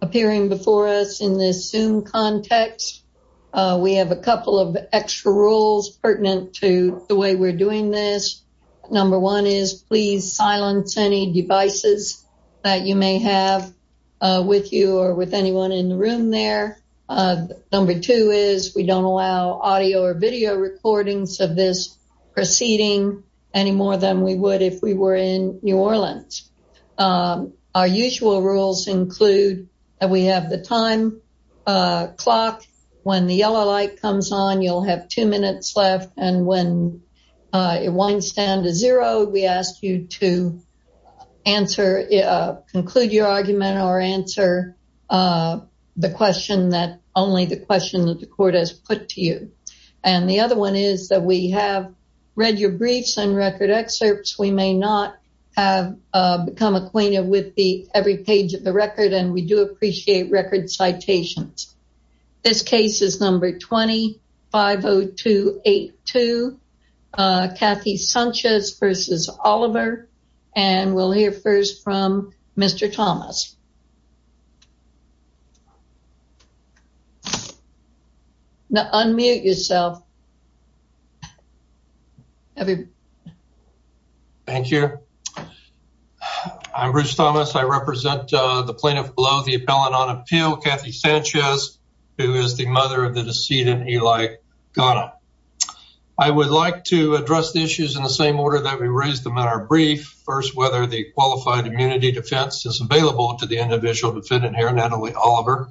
appearing before us in this Zoom context. We have a couple of extra rules pertinent to the way we're doing this. Number one is please silence any devices that you may have with you or with anyone in the room there. Number two is we don't allow audio or video recordings of this proceeding any more than we would if we were in New Orleans. Our usual rules include that we have the time clock when the yellow light comes on you'll have two minutes left and when it winds down to zero we ask you to answer, conclude your argument or answer the question that only the question that the court has put to you. And the other one is that we have read your briefs and record excerpts we may not have become acquainted with the every page of the record and we do appreciate record citations. This case is number 250282 Kathy Sanchez versus Oliver and we'll hear first from Mr. Thomas. Now unmute yourself. Thank you. I'm Bruce Thomas I represent the plaintiff below the appellant on appeal Kathy Sanchez who is the mother of the decedent Eli Gana. I would like to address the issues in the same order that we raised them in our brief. First whether the qualified immunity defense is available to the individual defendant here Natalie Oliver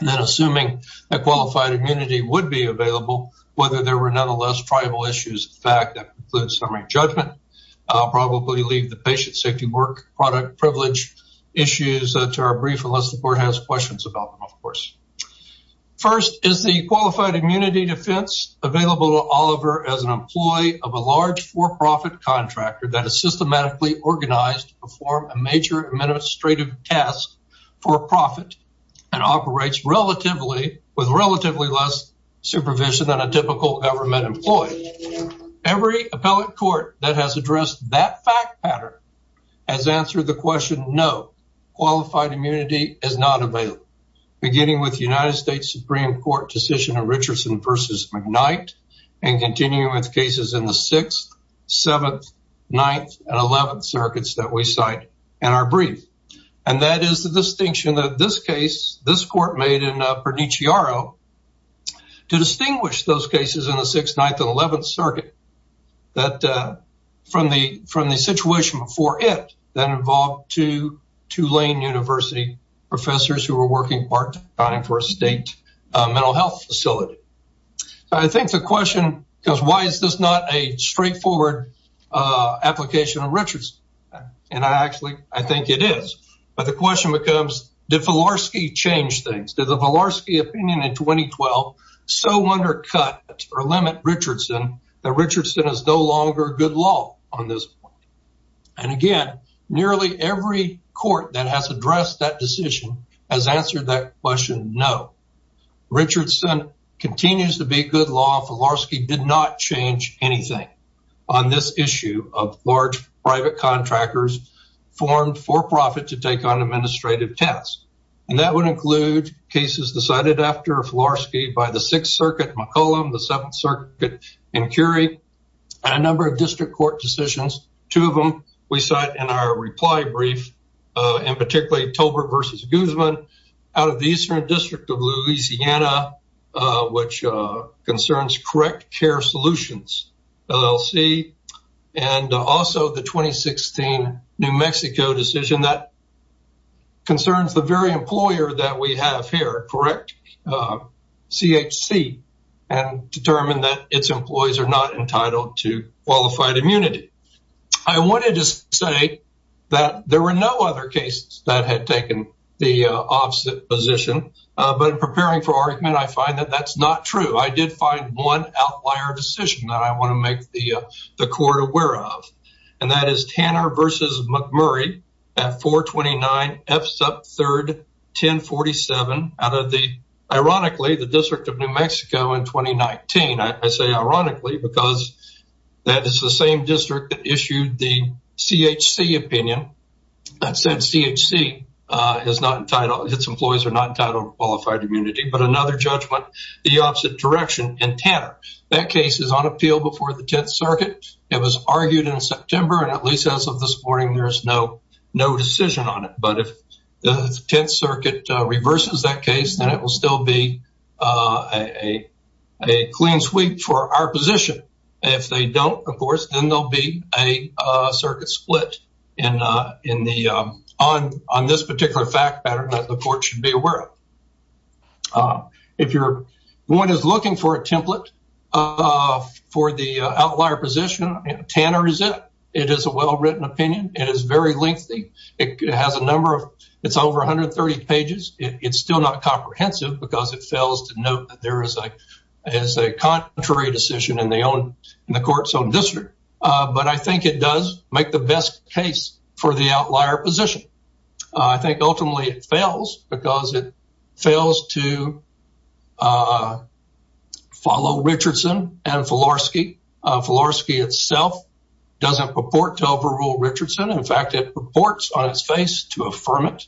and then assuming a qualified immunity would be available whether there were nonetheless tribal issues in fact that includes summary judgment. I'll probably leave the patient safety work product privilege issues to our brief unless the court has questions about them of course. First is the qualified for-profit contractor that is systematically organized to perform a major administrative task for a profit and operates relatively with relatively less supervision than a typical government employee. Every appellate court that has addressed that fact pattern has answered the question no qualified immunity is not available. Beginning with the United States Supreme Court decision of Richardson versus McKnight and continuing with cases in the 6th 7th 9th and 11th circuits that we cite in our brief and that is the distinction that this case this court made in Pernichiaro to distinguish those cases in the 6th 9th and 11th circuit that from the from the situation before it then involved two Tulane University professors who were working part-time for a state mental health facility. I think the question because why is this not a straightforward application of Richardson and I actually I think it is but the question becomes did Filarski change things to the Filarski opinion in 2012 so undercut or limit Richardson that Richardson is no longer good law on this and again nearly every court that has addressed that decision has answered that question no. Richardson continues to be good law Filarski did not change anything on this issue of large private contractors formed for-profit to take on administrative tests and that would include cases decided after Filarski by the 6th circuit McCollum the 7th circuit and Curie and a number of district court decisions two of them we cite in our reply brief and particularly Tolbert versus Guzman out of the Eastern District of Louisiana which concerns correct care solutions LLC and also the 2016 New Mexico decision that concerns the very employer that we have here correct CHC and determined that its employees are not entitled to qualified immunity. I wanted to say that there were no other cases that had taken the opposite position but in preparing for one outlier decision that I want to make the court aware of and that is Tanner versus McMurray at 429 F sub 3rd 1047 out of the ironically the District of New Mexico in 2019 I say ironically because that is the same district that issued the CHC opinion that said CHC is not entitled its employees are not entitled qualified immunity but another judgment the that case is on appeal before the 10th circuit it was argued in September and at least as of this morning there's no no decision on it but if the 10th circuit reverses that case then it will still be a a clean sweep for our position if they don't of course then there'll be a circuit split and in the on on this particular fact pattern that the court should be aware of. If you're one is looking for a template for the outlier position Tanner is it it is a well-written opinion it is very lengthy it has a number of it's over 130 pages it's still not comprehensive because it fails to note that there is a as a contrary decision in the own in the court's own district but I think it does make the best case for the outlier position I think ultimately it fails because it fails to follow Richardson and Filarski. Filarski itself doesn't purport to overrule Richardson in fact it purports on its face to affirm it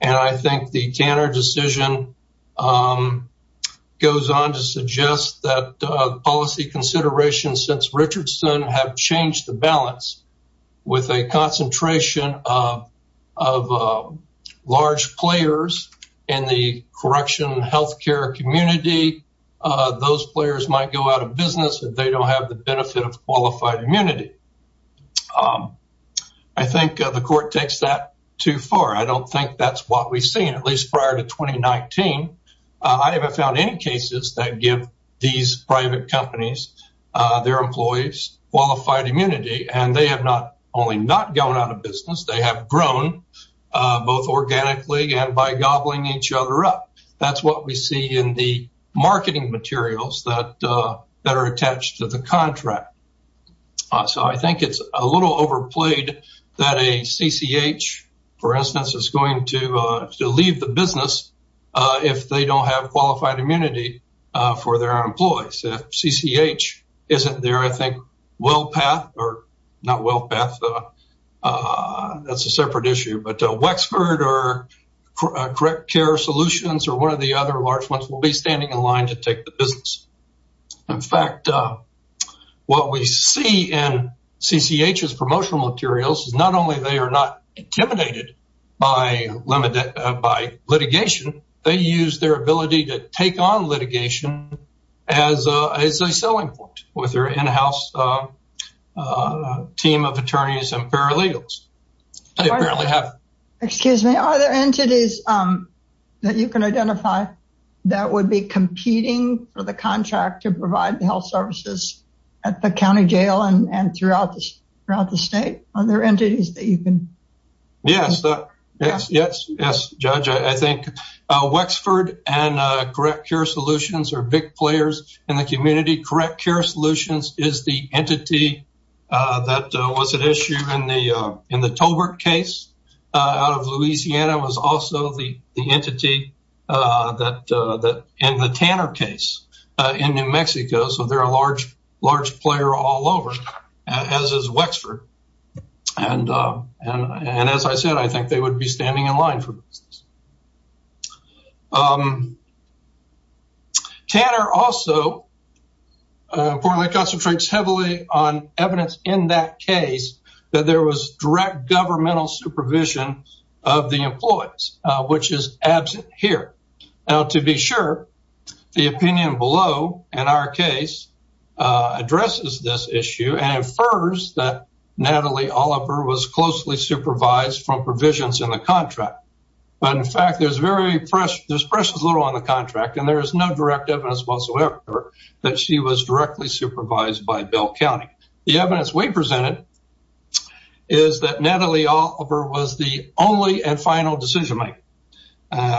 and I think the Tanner decision goes on to suggest that policy consideration since in the correction health care community those players might go out of business if they don't have the benefit of qualified immunity. I think the court takes that too far I don't think that's what we've seen at least prior to 2019 I haven't found any cases that give these private companies their employees qualified immunity and they have not only not going out of business they have grown both organically and by gobbling each other up that's what we see in the marketing materials that that are attached to the contract so I think it's a little overplayed that a CCH for instance is going to leave the business if they don't have qualified immunity for their employees if CCH isn't there I not well Beth that's a separate issue but Wexford or Correct Care Solutions or one of the other large ones will be standing in line to take the business in fact what we see in CCH's promotional materials is not only they are not intimidated by limited by litigation they use their ability to take on team of attorneys and paralegals excuse me are there entities that you can identify that would be competing for the contract to provide the health services at the county jail and throughout this throughout the state are there entities that you can yes yes yes yes judge I think Wexford and Correct Care Solutions are big players in the community Correct Care Solutions is the entity that was an issue in the in the Tobert case out of Louisiana was also the the entity that that in the Tanner case in New Mexico so they're a large large player all over as is Wexford and and and as I said I think they would be standing in line for business. Tanner also importantly concentrates heavily on evidence in that case that there was direct governmental supervision of the employees which is absent here now to be sure the opinion below in our case addresses this issue and infers that Natalie Oliver was closely supervised from provisions in the contract but in fact there's very fresh there's precious little on the contract and there is no direct evidence whatsoever that she was directly supervised by Bell County the evidence we presented is that Natalie Oliver was the only and final decision-maker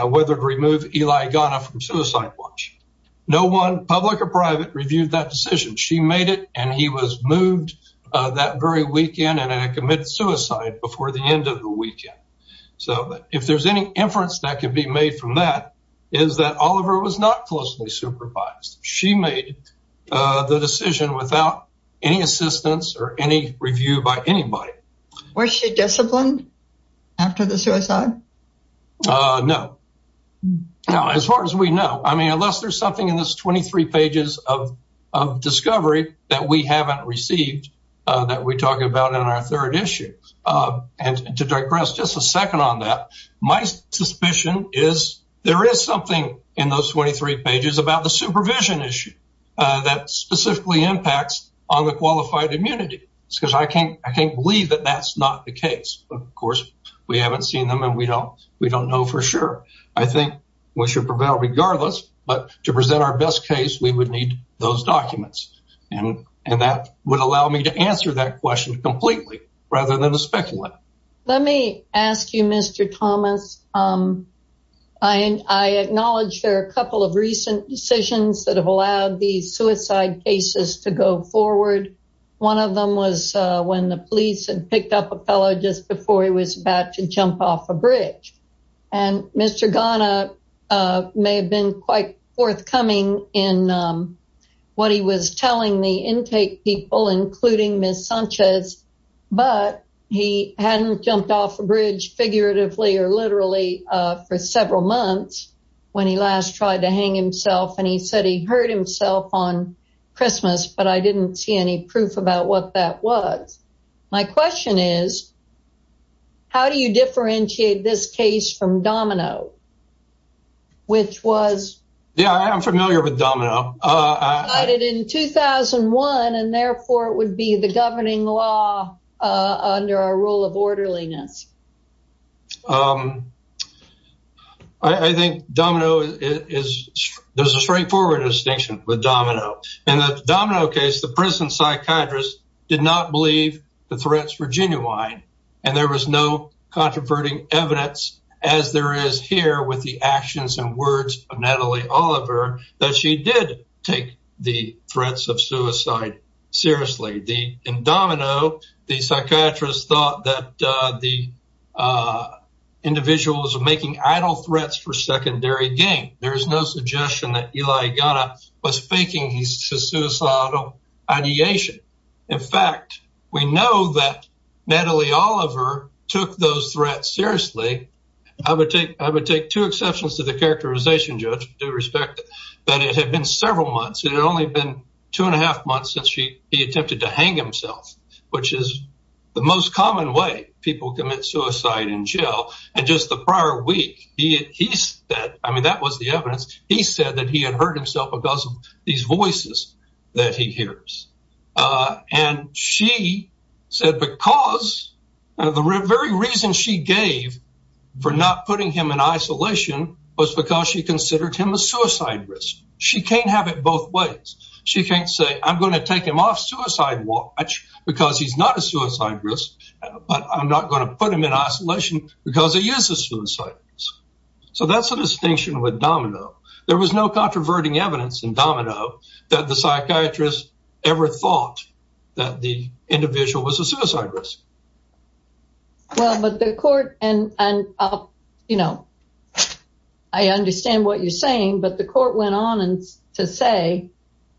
whether to remove Eli Ghana from suicide watch no one public or private reviewed that decision she made it and he was moved that very weekend and I commit suicide before the end of the weekend so if there's any inference that could be made from that is that Oliver was not closely supervised she made the decision without any assistance or any review by anybody where she disciplined after the suicide no no as far as we know I mean unless there's something in this 23 pages of discovery that we haven't received that we talked about in our third issue and to digress just a second on that my suspicion is there is something in those 23 pages about the supervision issue that specifically impacts on the qualified immunity because I can't I can't believe that that's not the case of course we haven't seen them and we don't we don't know for sure I think we should prevail regardless but to present our best case we would need those documents and and that would allow me to answer that question completely rather than a let me ask you mr. Thomas I and I acknowledge there are a couple of recent decisions that have allowed these suicide cases to go forward one of them was when the police and picked up a fellow just before he was about to jump off a bridge and mr. Ghana may have been quite forthcoming in what he was telling the intake people including miss Sanchez but he hadn't jumped off the bridge figuratively or literally for several months when he last tried to hang himself and he said he hurt himself on Christmas but I didn't see any proof about what that was my question is how do you differentiate this case from Domino I did in 2001 and therefore it would be the governing law under a rule of orderliness I think Domino is there's a straightforward distinction with Domino and the Domino case the prison psychiatrist did not believe the threats were genuine and there was no controverting evidence as there is here with the actions and words of Natalie Oliver that she did take the threats of suicide seriously the in Domino the psychiatrist thought that the individuals are making idle threats for secondary gain there is no suggestion that Eli Ghana was faking his suicidal ideation in fact we know that Natalie Oliver took those threats seriously I would take I would take two exceptions to the characterization judge to respect that it had been several months it had only been two and a half months since she he attempted to hang himself which is the most common way people commit suicide in jail and just the prior week he is that I mean that was the evidence he said that he had hurt himself a that he hears and she said because the very reason she gave for not putting him in isolation was because she considered him a suicide risk she can't have it both ways she can't say I'm going to take him off suicide watch because he's not a suicide risk but I'm not going to put him in isolation because he is a suicide so that's a distinction with Domino there was no controverting evidence in Domino that the psychiatrist ever thought that the individual was a suicide risk well but the court and you know I understand what you're saying but the court went on and to say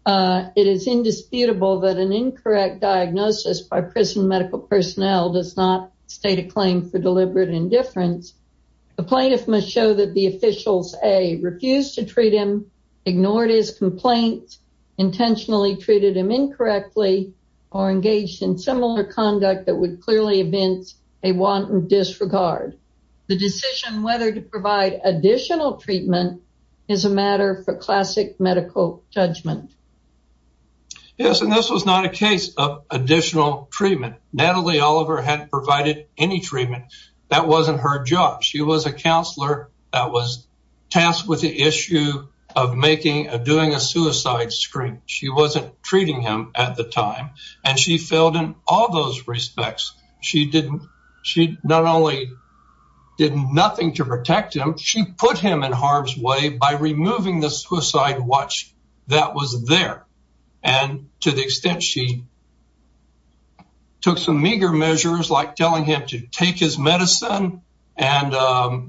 it is indisputable that an incorrect diagnosis by prison medical personnel does not state a claim for deliberate indifference the plaintiff must show that the officials a refused to treat him ignored his complaints intentionally treated him incorrectly or engaged in similar conduct that would clearly events a wanton disregard the decision whether to provide additional treatment is a matter for classic medical judgment yes and this was not a case of additional treatment Natalie Oliver had provided any treatment that wasn't her job she was a counselor that was tasked with the issue of making a doing a suicide screen she wasn't treating him at the time and she failed in all those respects she didn't she not only did nothing to protect him she put him in harm's way by removing the suicide watch that was there and to the extent she took some meager measures like telling him to take his medicine and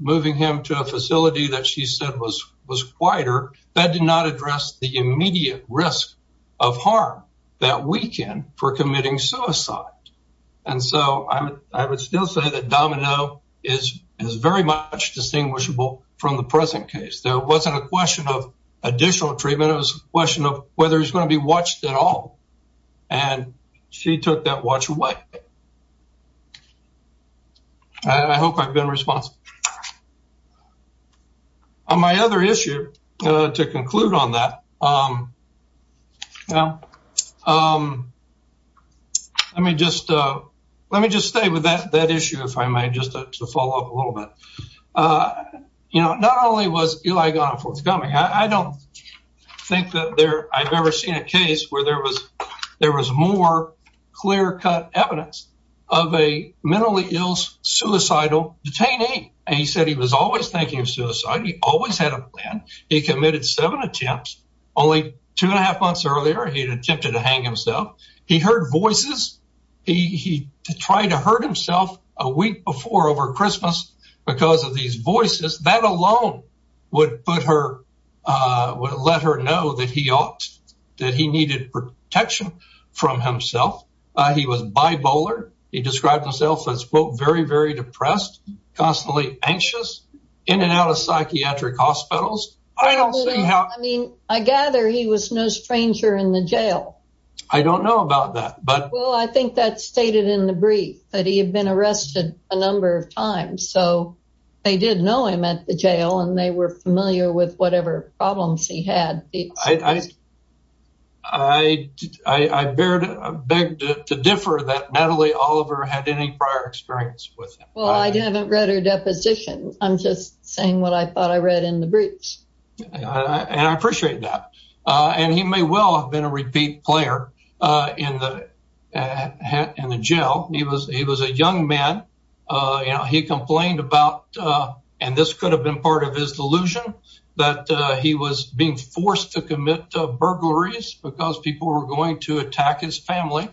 moving him to a facility that she said was was quieter that did not address the immediate risk of harm that we can for committing suicide and so I would still say that Domino is is very much distinguishable from the present case there wasn't a question of additional treatment it was a question of whether he's going to be watched at home and she took that watch away I hope I've been responsible on my other issue to conclude on that now let me just let me just stay with that that issue if I might just to follow up a little bit you know not only was Eli gone forthcoming I don't think that there I've ever seen a case where there was there was more clear-cut evidence of a mentally ill suicidal detainee and he said he was always thinking of suicide he always had a plan he committed seven attempts only two and a half months earlier he attempted to hang himself he heard voices he tried to hurt himself a week before over Christmas because of these voices that alone would put her would let her know that he ought that he needed protection from himself he was bipolar he described himself as quote very very depressed constantly anxious in and out of psychiatric hospitals I mean I gather he was no stranger in the jail I don't know about that but well I think that's stated in the brief that he had been arrested a number of times so they didn't know him at the jail and they were familiar with whatever problems he had. I beg to differ that Natalie Oliver had any prior experience with him. Well I haven't read her deposition I'm just saying what I thought I read in the briefs. And I appreciate that and he may well have been a repeat player in the in the jail he was he was a young man you know he could have been part of his delusion that he was being forced to commit burglaries because people were going to attack his family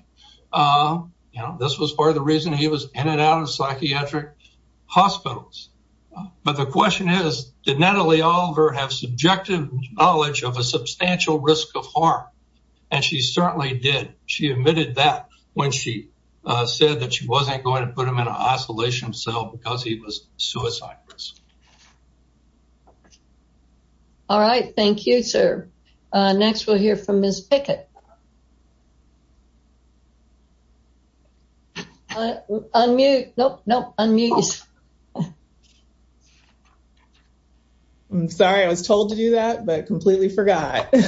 you know this was part of the reason he was in and out of psychiatric hospitals but the question is did Natalie Oliver have subjective knowledge of a substantial risk of harm and she certainly did she admitted that when she said that she wasn't going to All right thank you sir. Next we'll hear from Ms. Pickett. Unmute nope nope unmute. I'm sorry I was told to do that but completely forgot. May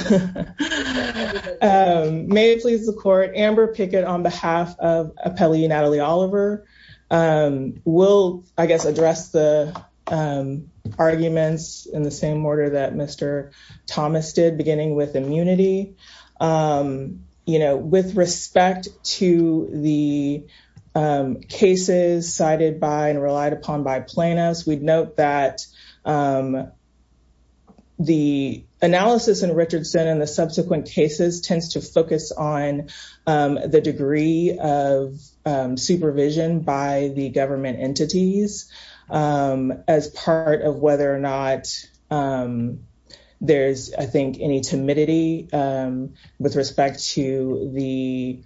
it please the court Amber Pickett on behalf of appellee Natalie Oliver will I would like to make a few arguments in the same order that Mr. Thomas did beginning with immunity. You know with respect to the cases cited by and relied upon by plaintiffs we'd note that the analysis in Richardson and the subsequent cases tends to focus on the degree of supervision by the government entities as part of whether or not there's I think any timidity with respect to the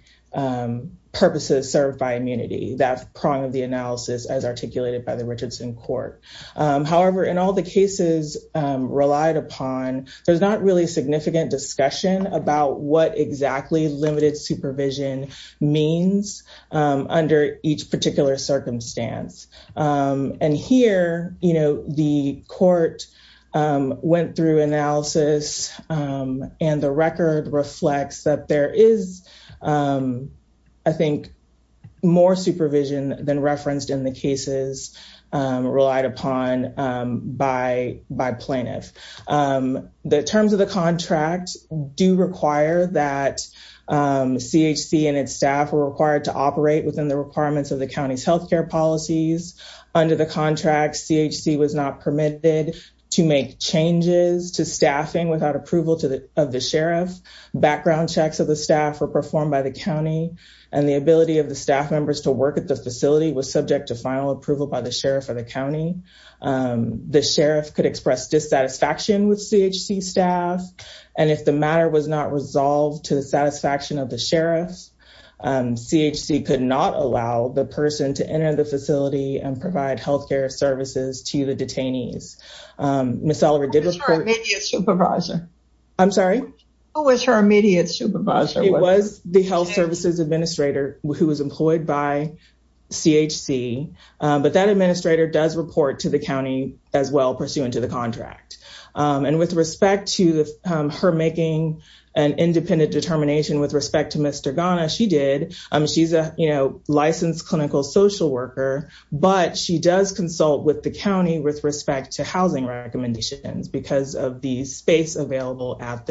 purposes served by immunity that prong of the analysis as articulated by the Richardson court. However in all the cases relied upon there's not really significant discussion about what exactly limited supervision means under each particular circumstance and here you know the court went through analysis and the record reflects that there is I think more supervision than referenced in the cases relied upon by by plaintiff. The terms of the contract do require that CHC and its staff were required to operate within the requirements of the county's health care policies. Under the contract CHC was not permitted to make changes to staffing without approval to the of the sheriff. Background checks of the staff were performed by the county and the ability of the staff members to submit to final approval by the sheriff of the county. The sheriff could express dissatisfaction with CHC staff and if the matter was not resolved to the satisfaction of the sheriff, CHC could not allow the person to enter the facility and provide health care services to the detainees. Miss Oliver did report... Who was her immediate supervisor? I'm sorry? Who was her immediate supervisor? Miss Oliver did report to CHC but that administrator does report to the county as well pursuant to the contract and with respect to her making an independent determination with respect to Mr. Ghana she did. She's a you know licensed clinical social worker but she does consult with the county with respect to housing recommendations because of the space available at the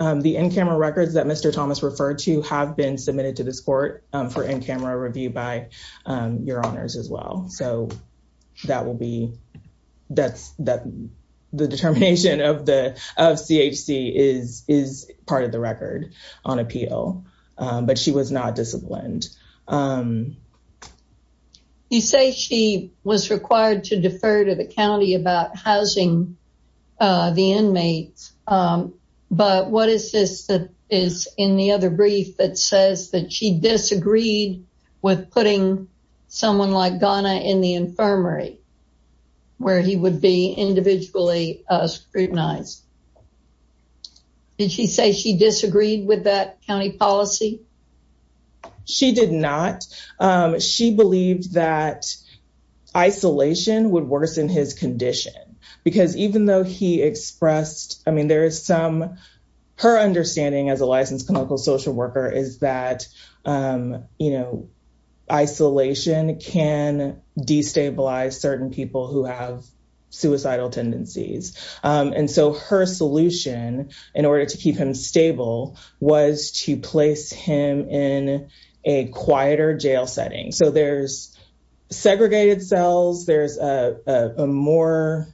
were the in-camera records that Mr. Thomas referred to have been submitted to this court for in-camera review by your honors as well so that will be that's that the determination of the of CHC is is part of the record on appeal but she was not disciplined. You say she was required to defer to the county about housing the inmates but what is this that is in the other brief that says that she disagreed with putting someone like Ghana in the infirmary where he would be individually scrutinized? Did she say she disagreed with that county policy? She did not. She believed that isolation would worsen his condition because even though he expressed I mean there is some her understanding as a licensed clinical social worker is that you know isolation can destabilize certain people who have suicidal tendencies and so her solution in order to keep him stable was to place him in a quieter jail setting so there's segregated cells there's a more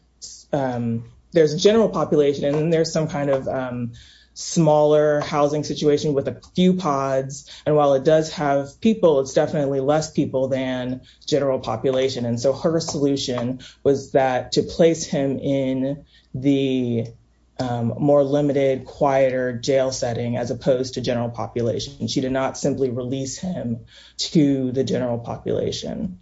there's a general population and there's some kind of smaller housing situation with a few pods and while it does have people it's definitely less people than general population and so her solution was that to place him in the more limited quieter jail setting as opposed to general population. She did not simply release him to the general population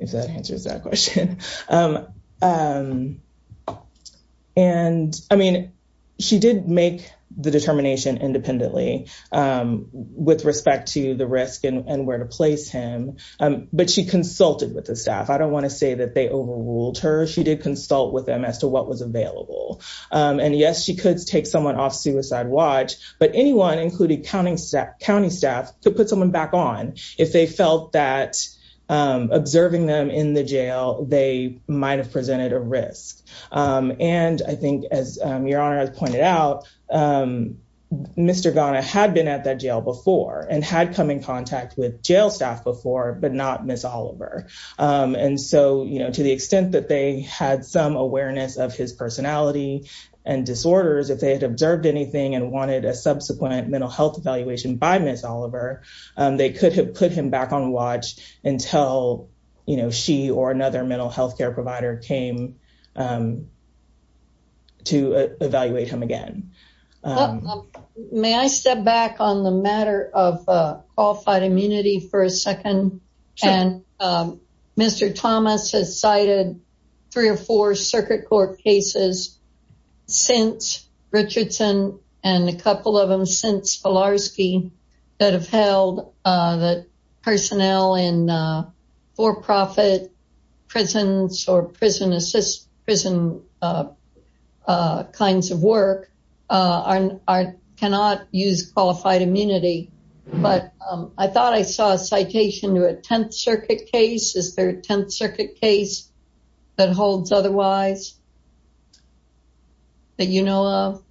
if that answers that question and I mean she did make the determination independently with respect to the risk and where to place him but she consulted with the staff. I don't want to say that they overruled her. She did consult with them as to what was available and yes she could take someone off suicide watch but anyone including county staff to put someone back on if they felt that observing them in the jail they might have presented a risk and I think as your honor has pointed out Mr. Ghana had been at that jail before and had come in contact with jail staff before but not Miss Oliver and so you know to the extent that they had some awareness of his personality and disorders if they had observed anything and wanted a subsequent mental health evaluation by Miss Oliver they could have put him back on watch until you know she or another mental health care provider came to evaluate him again. May I step back on the matter of Mr. Thomas has cited three or four circuit court cases since Richardson and a couple of them since Polarski that have held that personnel in for-profit prisons or prison assist prison kinds of work are cannot use qualified immunity but I thought I saw a citation to a Tenth Circuit case is there a Tenth Circuit case that holds otherwise that you know of?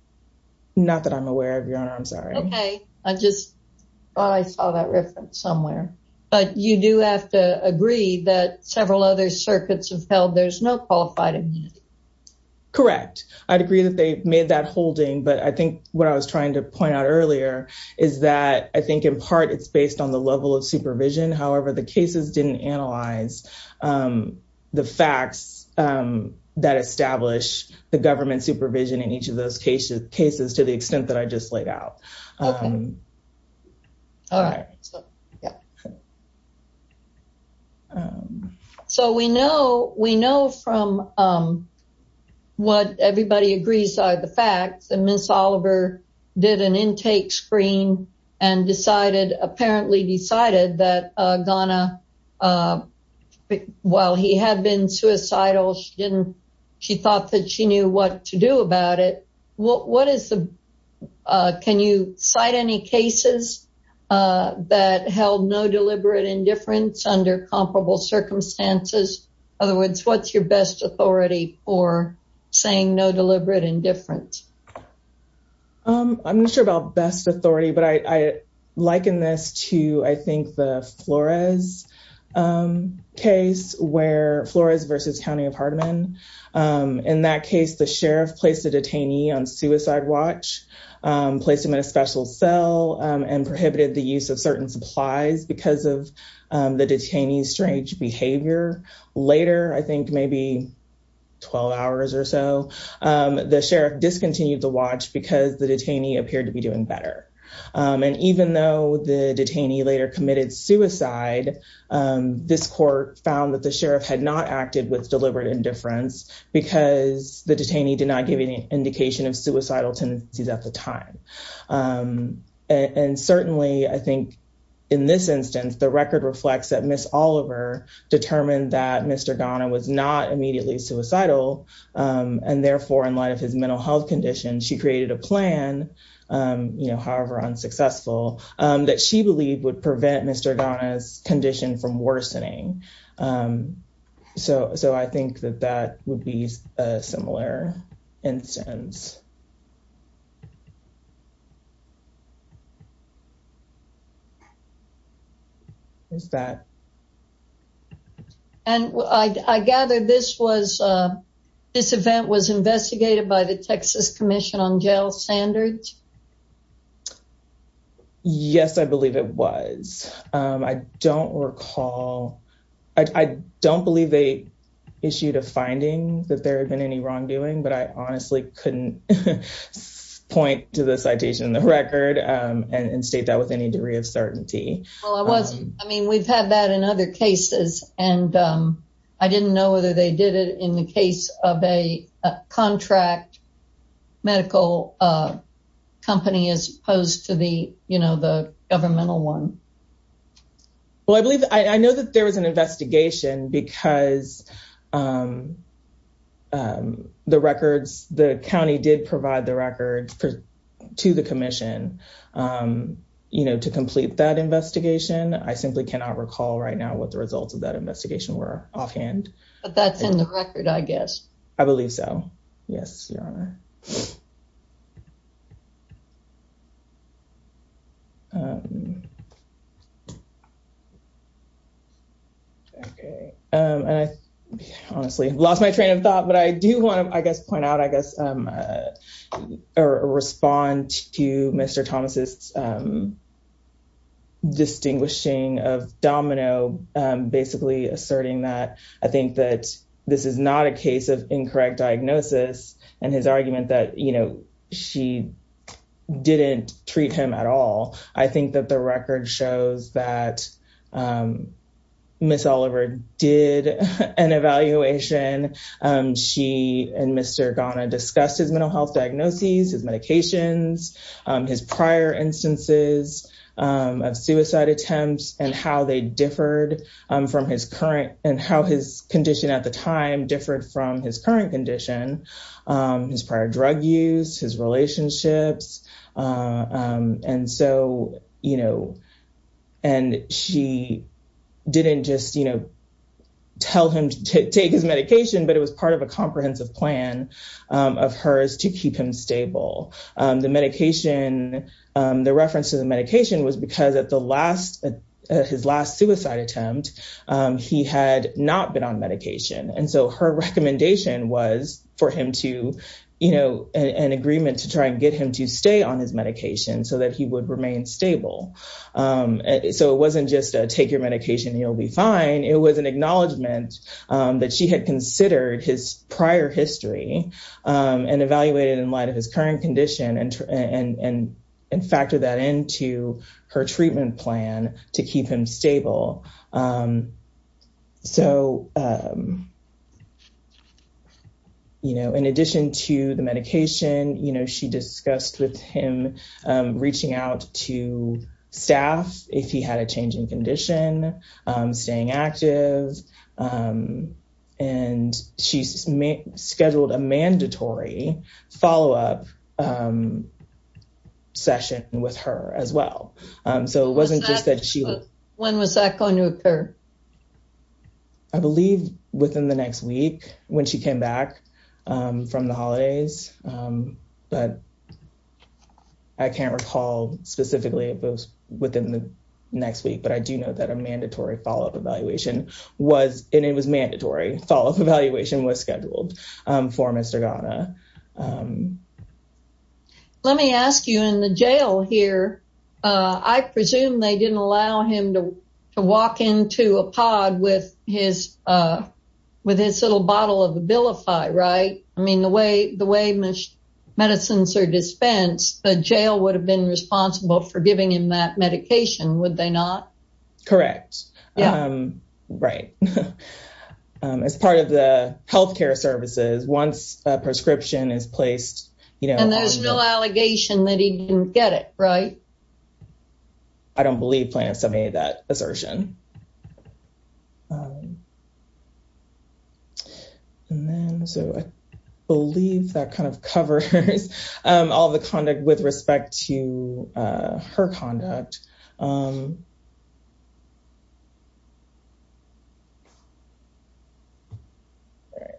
Not that I'm aware of your honor I'm sorry. Okay I just thought I saw that reference somewhere but you do have to agree that several other circuits have held there's no qualified immunity. Correct I'd agree that they made that holding but I think what I was I think in part it's based on the level of supervision however the cases didn't analyze the facts that establish the government supervision in each of those cases cases to the extent that I just laid out. So we know we know from what decided apparently decided that Donna while he had been suicidal she didn't she thought that she knew what to do about it what what is the can you cite any cases that held no deliberate indifference under comparable circumstances other words what's your best authority for saying no deliberate indifference? I'm not sure about best authority but I liken this to I think the Flores case where Flores versus County of Hardeman in that case the sheriff placed a detainee on suicide watch placed him in a special cell and prohibited the use of certain supplies because of the detainee's strange behavior. Later I think maybe 12 hours or so the sheriff discontinued the watch because the detainee appeared to be doing better and even though the detainee later committed suicide this court found that the sheriff had not acted with deliberate indifference because the detainee did not give any indication of suicidal tendencies at the time and certainly I think in this instance the Sheriff's office, Ms. Oliver, determined that Mr. Donna was not immediately suicidal and therefore in light of his mental health condition she created a plan you know however unsuccessful that she believed would prevent Mr. Donna's condition from And I gather this was this event was investigated by the Texas Commission on Jail Standards? Yes I believe it was I don't recall I don't believe they issued a finding that there had been any wrongdoing but I honestly couldn't point to the citation in the record and state that with any degree of certainty. Well I mean we've had that in other cases and I didn't know whether they did it in the case of a contract medical company as opposed to the you know the governmental one. Well I believe I know that there was an investigation because the records the county did provide the record to the Commission you know to complete that I simply cannot recall right now what the results of that investigation were offhand. But that's in the record I guess. I believe so yes your honor. Honestly lost my train of thought but I do want to I guess point out I guess or distinguishing of Domino basically asserting that I think that this is not a case of incorrect diagnosis and his argument that you know she didn't treat him at all I think that the record shows that Miss Oliver did an evaluation she and Mr. Ghana discussed his mental health diagnoses his medications his prior instances of suicide attempts and how they differed from his current and how his condition at the time differed from his current condition his prior drug use his relationships and so you know and she didn't just you know tell him to take his medication but it was part of a comprehensive plan of hers to keep him the reference to the medication was because at the last his last suicide attempt he had not been on medication and so her recommendation was for him to you know an agreement to try and get him to stay on his medication so that he would remain stable so it wasn't just take your medication you'll be fine it was an acknowledgement that she had considered his prior history and evaluated in light of his current condition and and and and factor that into her treatment plan to keep him stable so you know in addition to the medication you know she discussed with him reaching out to staff if he had a change in condition staying active um and she's scheduled a mandatory follow-up session with her as well so it wasn't just that she when was that going to occur i believe within the next week when she came back from the holidays but i can't recall specifically if it was within the next week but i do know that a mandatory follow-up evaluation was and it was mandatory follow-up evaluation was scheduled for mr ghana let me ask you in the jail here uh i presume they didn't allow him to walk into a pod with his uh with his little bottle of abilify right i mean the way the way much medicines are dispensed the jail would have been responsible for giving him that medication would they not correct um right um as part of the health care services once a prescription is placed you know and there's no allegation that he didn't get it right i don't believe planets have made that assertion um and then so i believe that kind of covers um all the conduct with respect to uh her conduct um right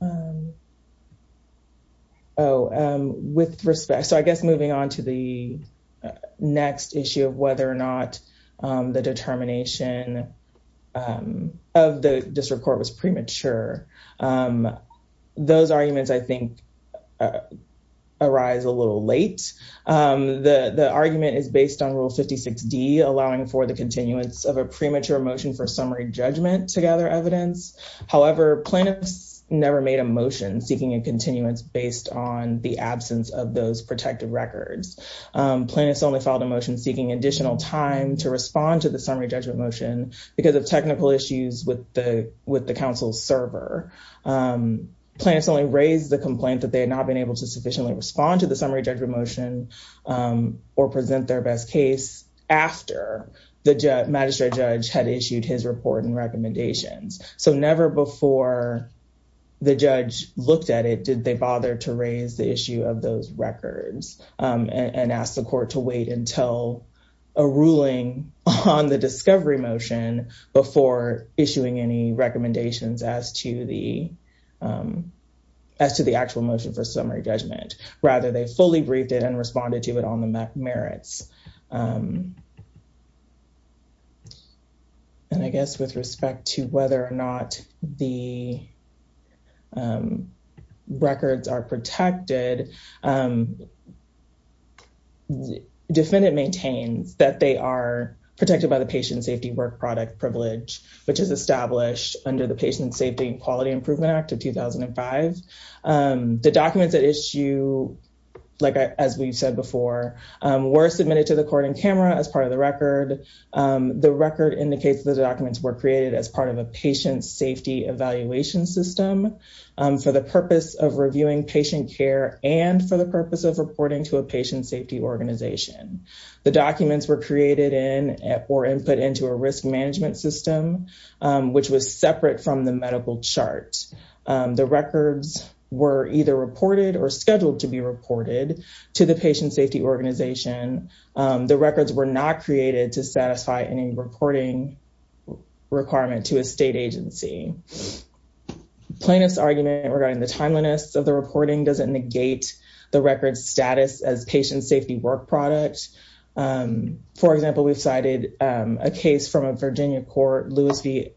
um oh um with respect so i guess moving on to the next issue of whether or not the determination of the district court was premature um those arguments i think uh arise a little late um the the argument is based on rule 56d allowing for the continuance of a premature motion for summary judgment to gather evidence however plaintiffs never made a motion seeking a continuance based on the absence of those protective records um plaintiffs only filed a motion seeking additional time to respond to the summary judgment motion because of technical issues with the with the council server um plants only raised the complaint that they had not been able to sufficiently respond to the summary judgment motion um or present their best case after the magistrate judge had issued his report and recommendations so never before the judge looked at it did they bother to raise the issue of those records um and ask the court to wait until a ruling on the discovery motion before issuing any recommendations as to the um as to the actual motion for summary judgment rather they fully briefed it and responded to it on the merits um and i guess with respect to whether or not the um records are protected um defendant maintains that they are protected by the patient safety work product privilege which is established under the patient safety and quality improvement act of 2005 um the documents that issue like as we've said before um were submitted to the court in camera as part of the record um the record indicates the documents were created as part of a patient safety evaluation system um for the purpose of reviewing patient care and for the purpose of reporting to a patient safety organization the documents were created in or input into a risk management system which was separate from the medical chart the records were either reported or scheduled to be reported to the patient safety organization the records were not created to satisfy any reporting requirement to a state agency plaintiff's argument regarding the timeliness of the doesn't negate the record status as patient safety work product um for example we've cited um a case from a virginia court lewis v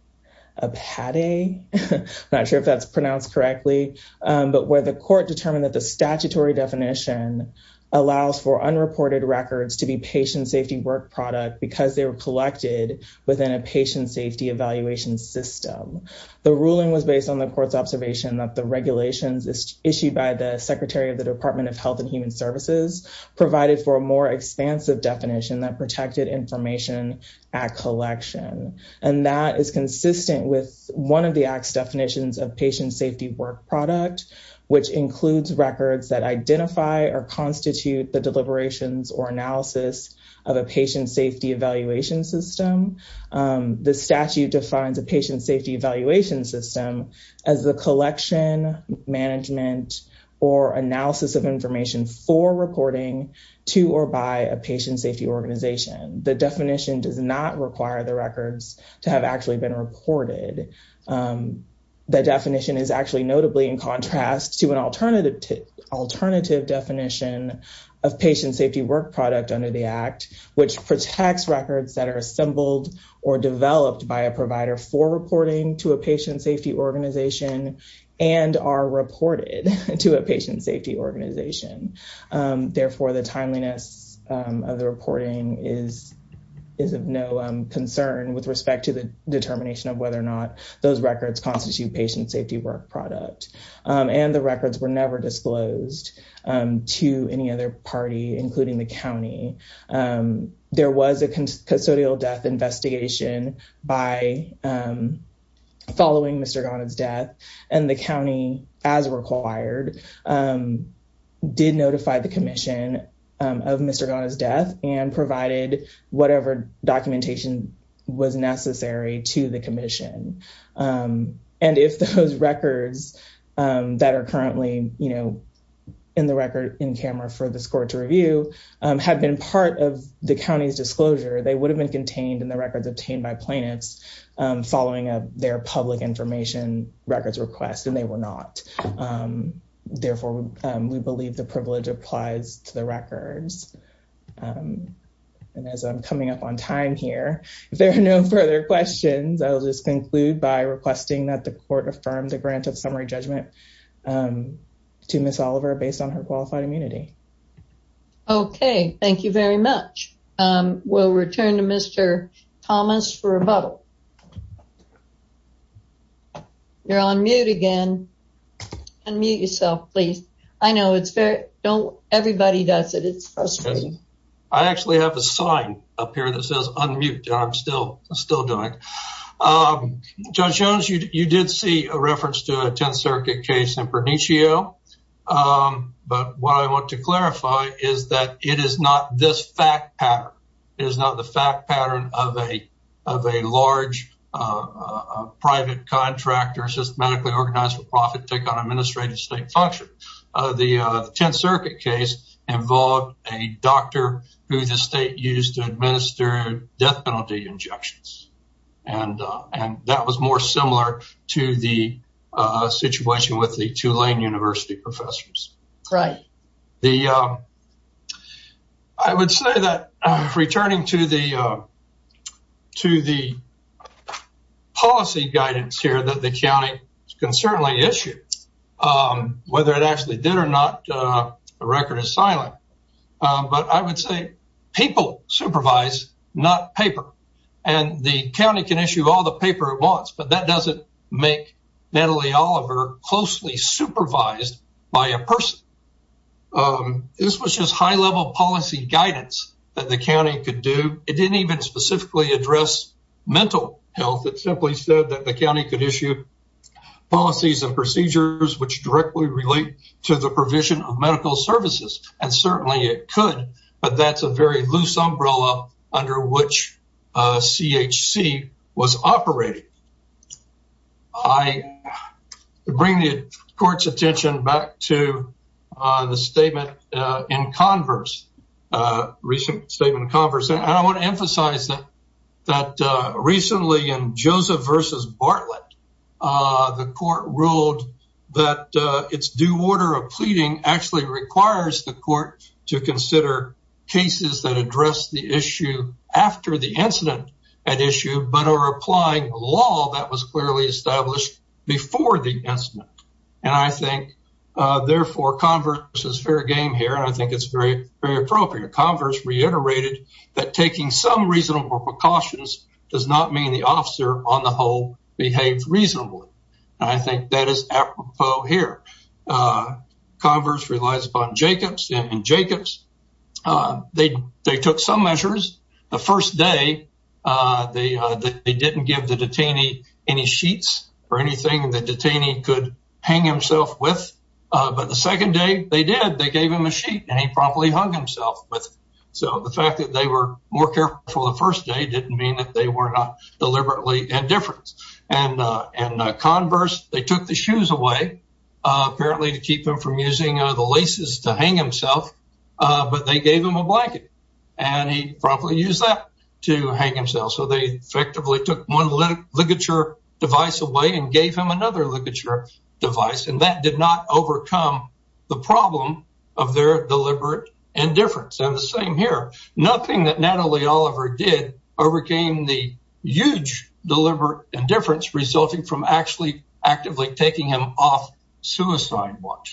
appaday i'm not sure if that's pronounced correctly but where the court determined that the statutory definition allows for unreported records to be patient safety work product because they were collected within a patient safety evaluation system the ruling was based on the court's observation that the regulations issued by the secretary of the department of health and human services provided for a more expansive definition that protected information at collection and that is consistent with one of the act's definitions of patient safety work product which includes records that identify or constitute the patient safety evaluation system as the collection management or analysis of information for reporting to or by a patient safety organization the definition does not require the records to have actually been reported um the definition is actually notably in contrast to an alternative alternative definition of patient safety work product under the act which protects records that are assembled or developed by a provider for reporting to a patient safety organization and are reported to a patient safety organization therefore the timeliness of the reporting is is of no concern with respect to the determination of whether or not those records constitute patient safety work product and the records were never disclosed to any other party including the county there was a custodial death investigation by following Mr. Ghana's death and the county as required did notify the commission of Mr. Ghana's death and provided whatever documentation was necessary to the commission um and if those records that are currently you know in the record in camera for the score to review have been part of the county's disclosure they would have been contained in the records obtained by plaintiffs following up their public information records request and they were not therefore we believe the privilege applies to the records um and as I'm coming up on time here if there are no further questions I will just conclude by requesting that the court affirm the grant of summary judgment um to Ms. Oliver based on her qualified immunity. Okay thank you very much um we'll return to Mr. Thomas for rebuttal. Okay you're on mute again unmute yourself please I know it's very don't everybody does it it's frustrating. I actually have a sign up here that says unmute I'm still still doing um Judge Jones you did see a reference to a 10th circuit case in Pernicchio um but what I want clarify is that it is not this fact pattern it is not the fact pattern of a of a large private contractor systematically organized for profit take on administrative state function uh the uh 10th circuit case involved a doctor who the state used to administer death penalty injections and uh and that was more similar to the uh situation with the Tulane University professors. Right. The um I would say that returning to the uh to the policy guidance here that the county can certainly issue um whether it actually did or not uh the record is silent but I would say people supervise not paper and the county can issue all the paper it wants but that doesn't make Natalie Oliver closely supervised by a person um this was just high level policy guidance that the county could do it didn't even specifically address mental health it simply said that the county could issue policies and procedures which directly relate to the provision of medical services and certainly it could but that's a very loose umbrella under which uh CHC was operating. I bring the court's attention back to uh the statement uh in converse uh recent statement of converse and I want to emphasize that that uh recently in Joseph versus Bartlett uh the court ruled that uh its due order of pleading actually requires the court to consider cases that address the issue after the incident at issue but are applying a law that was clearly established before the incident and I think uh therefore converse is fair game here and I think it's very very appropriate converse reiterated that taking some reasonable precautions does not mean the officer on the whole behaves reasonably and I think that is apropos here uh converse relies upon Jacobs and Jacobs uh they they took some measures the first day uh they uh they didn't give the detainee any sheets or anything the detainee could hang himself with uh but the second day they did they gave him a sheet and he promptly hung himself with so the fact that they were more careful the first day didn't mean that they were not deliberately indifference and uh and the laces to hang himself uh but they gave him a blanket and he probably used that to hang himself so they effectively took one ligature device away and gave him another ligature device and that did not overcome the problem of their deliberate indifference and the same here nothing that Natalie Oliver did overcame the huge deliberate indifference resulting from actually actively taking him off suicide watch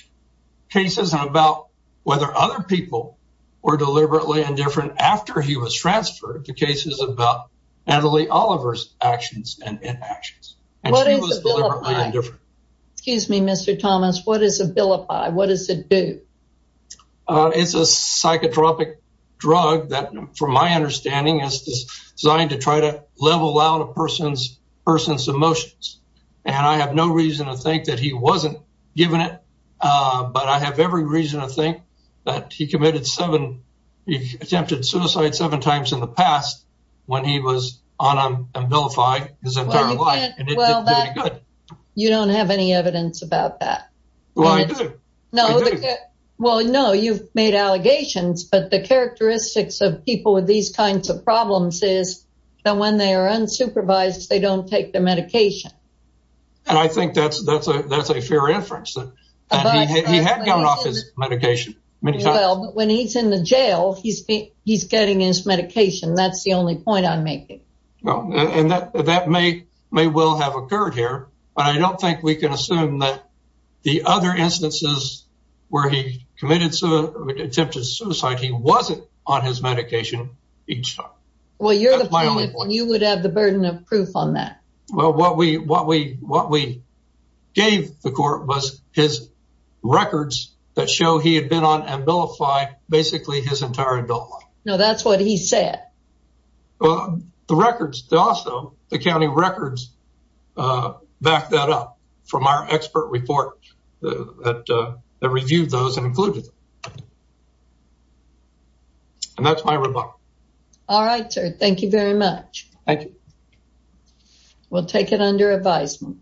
cases and about whether other people were deliberately indifferent after he was transferred to cases about Natalie Oliver's actions and inactions and she was excuse me Mr. Thomas what is a bilipi what does it do uh it's a psychotropic drug that from my understanding is designed to try to level out a person's person's emotions and I have no reason to think that he wasn't given it uh but I have every reason to think that he committed seven he attempted suicide seven times in the past when he was on a vilify his entire life you don't have any evidence about that well I do no well no you've made allegations but the characteristics of people with these kinds of problems is that when they are unsupervised they don't take their medication and I think that's that's a that's a fair inference that he had gone off his medication many times well but when he's in the jail he's he's getting his medication that's the only point I'm making well and that that may may well have occurred here but I don't think we can assume that the other instances where he committed attempted suicide he wasn't on his proof on that well what we what we what we gave the court was his records that show he had been on and vilify basically his entire adult life now that's what he said well the records also the county records uh back that up from our expert report that uh that reviewed those and included and that's my remark all right sir thank you very much thank you we'll take it under advisement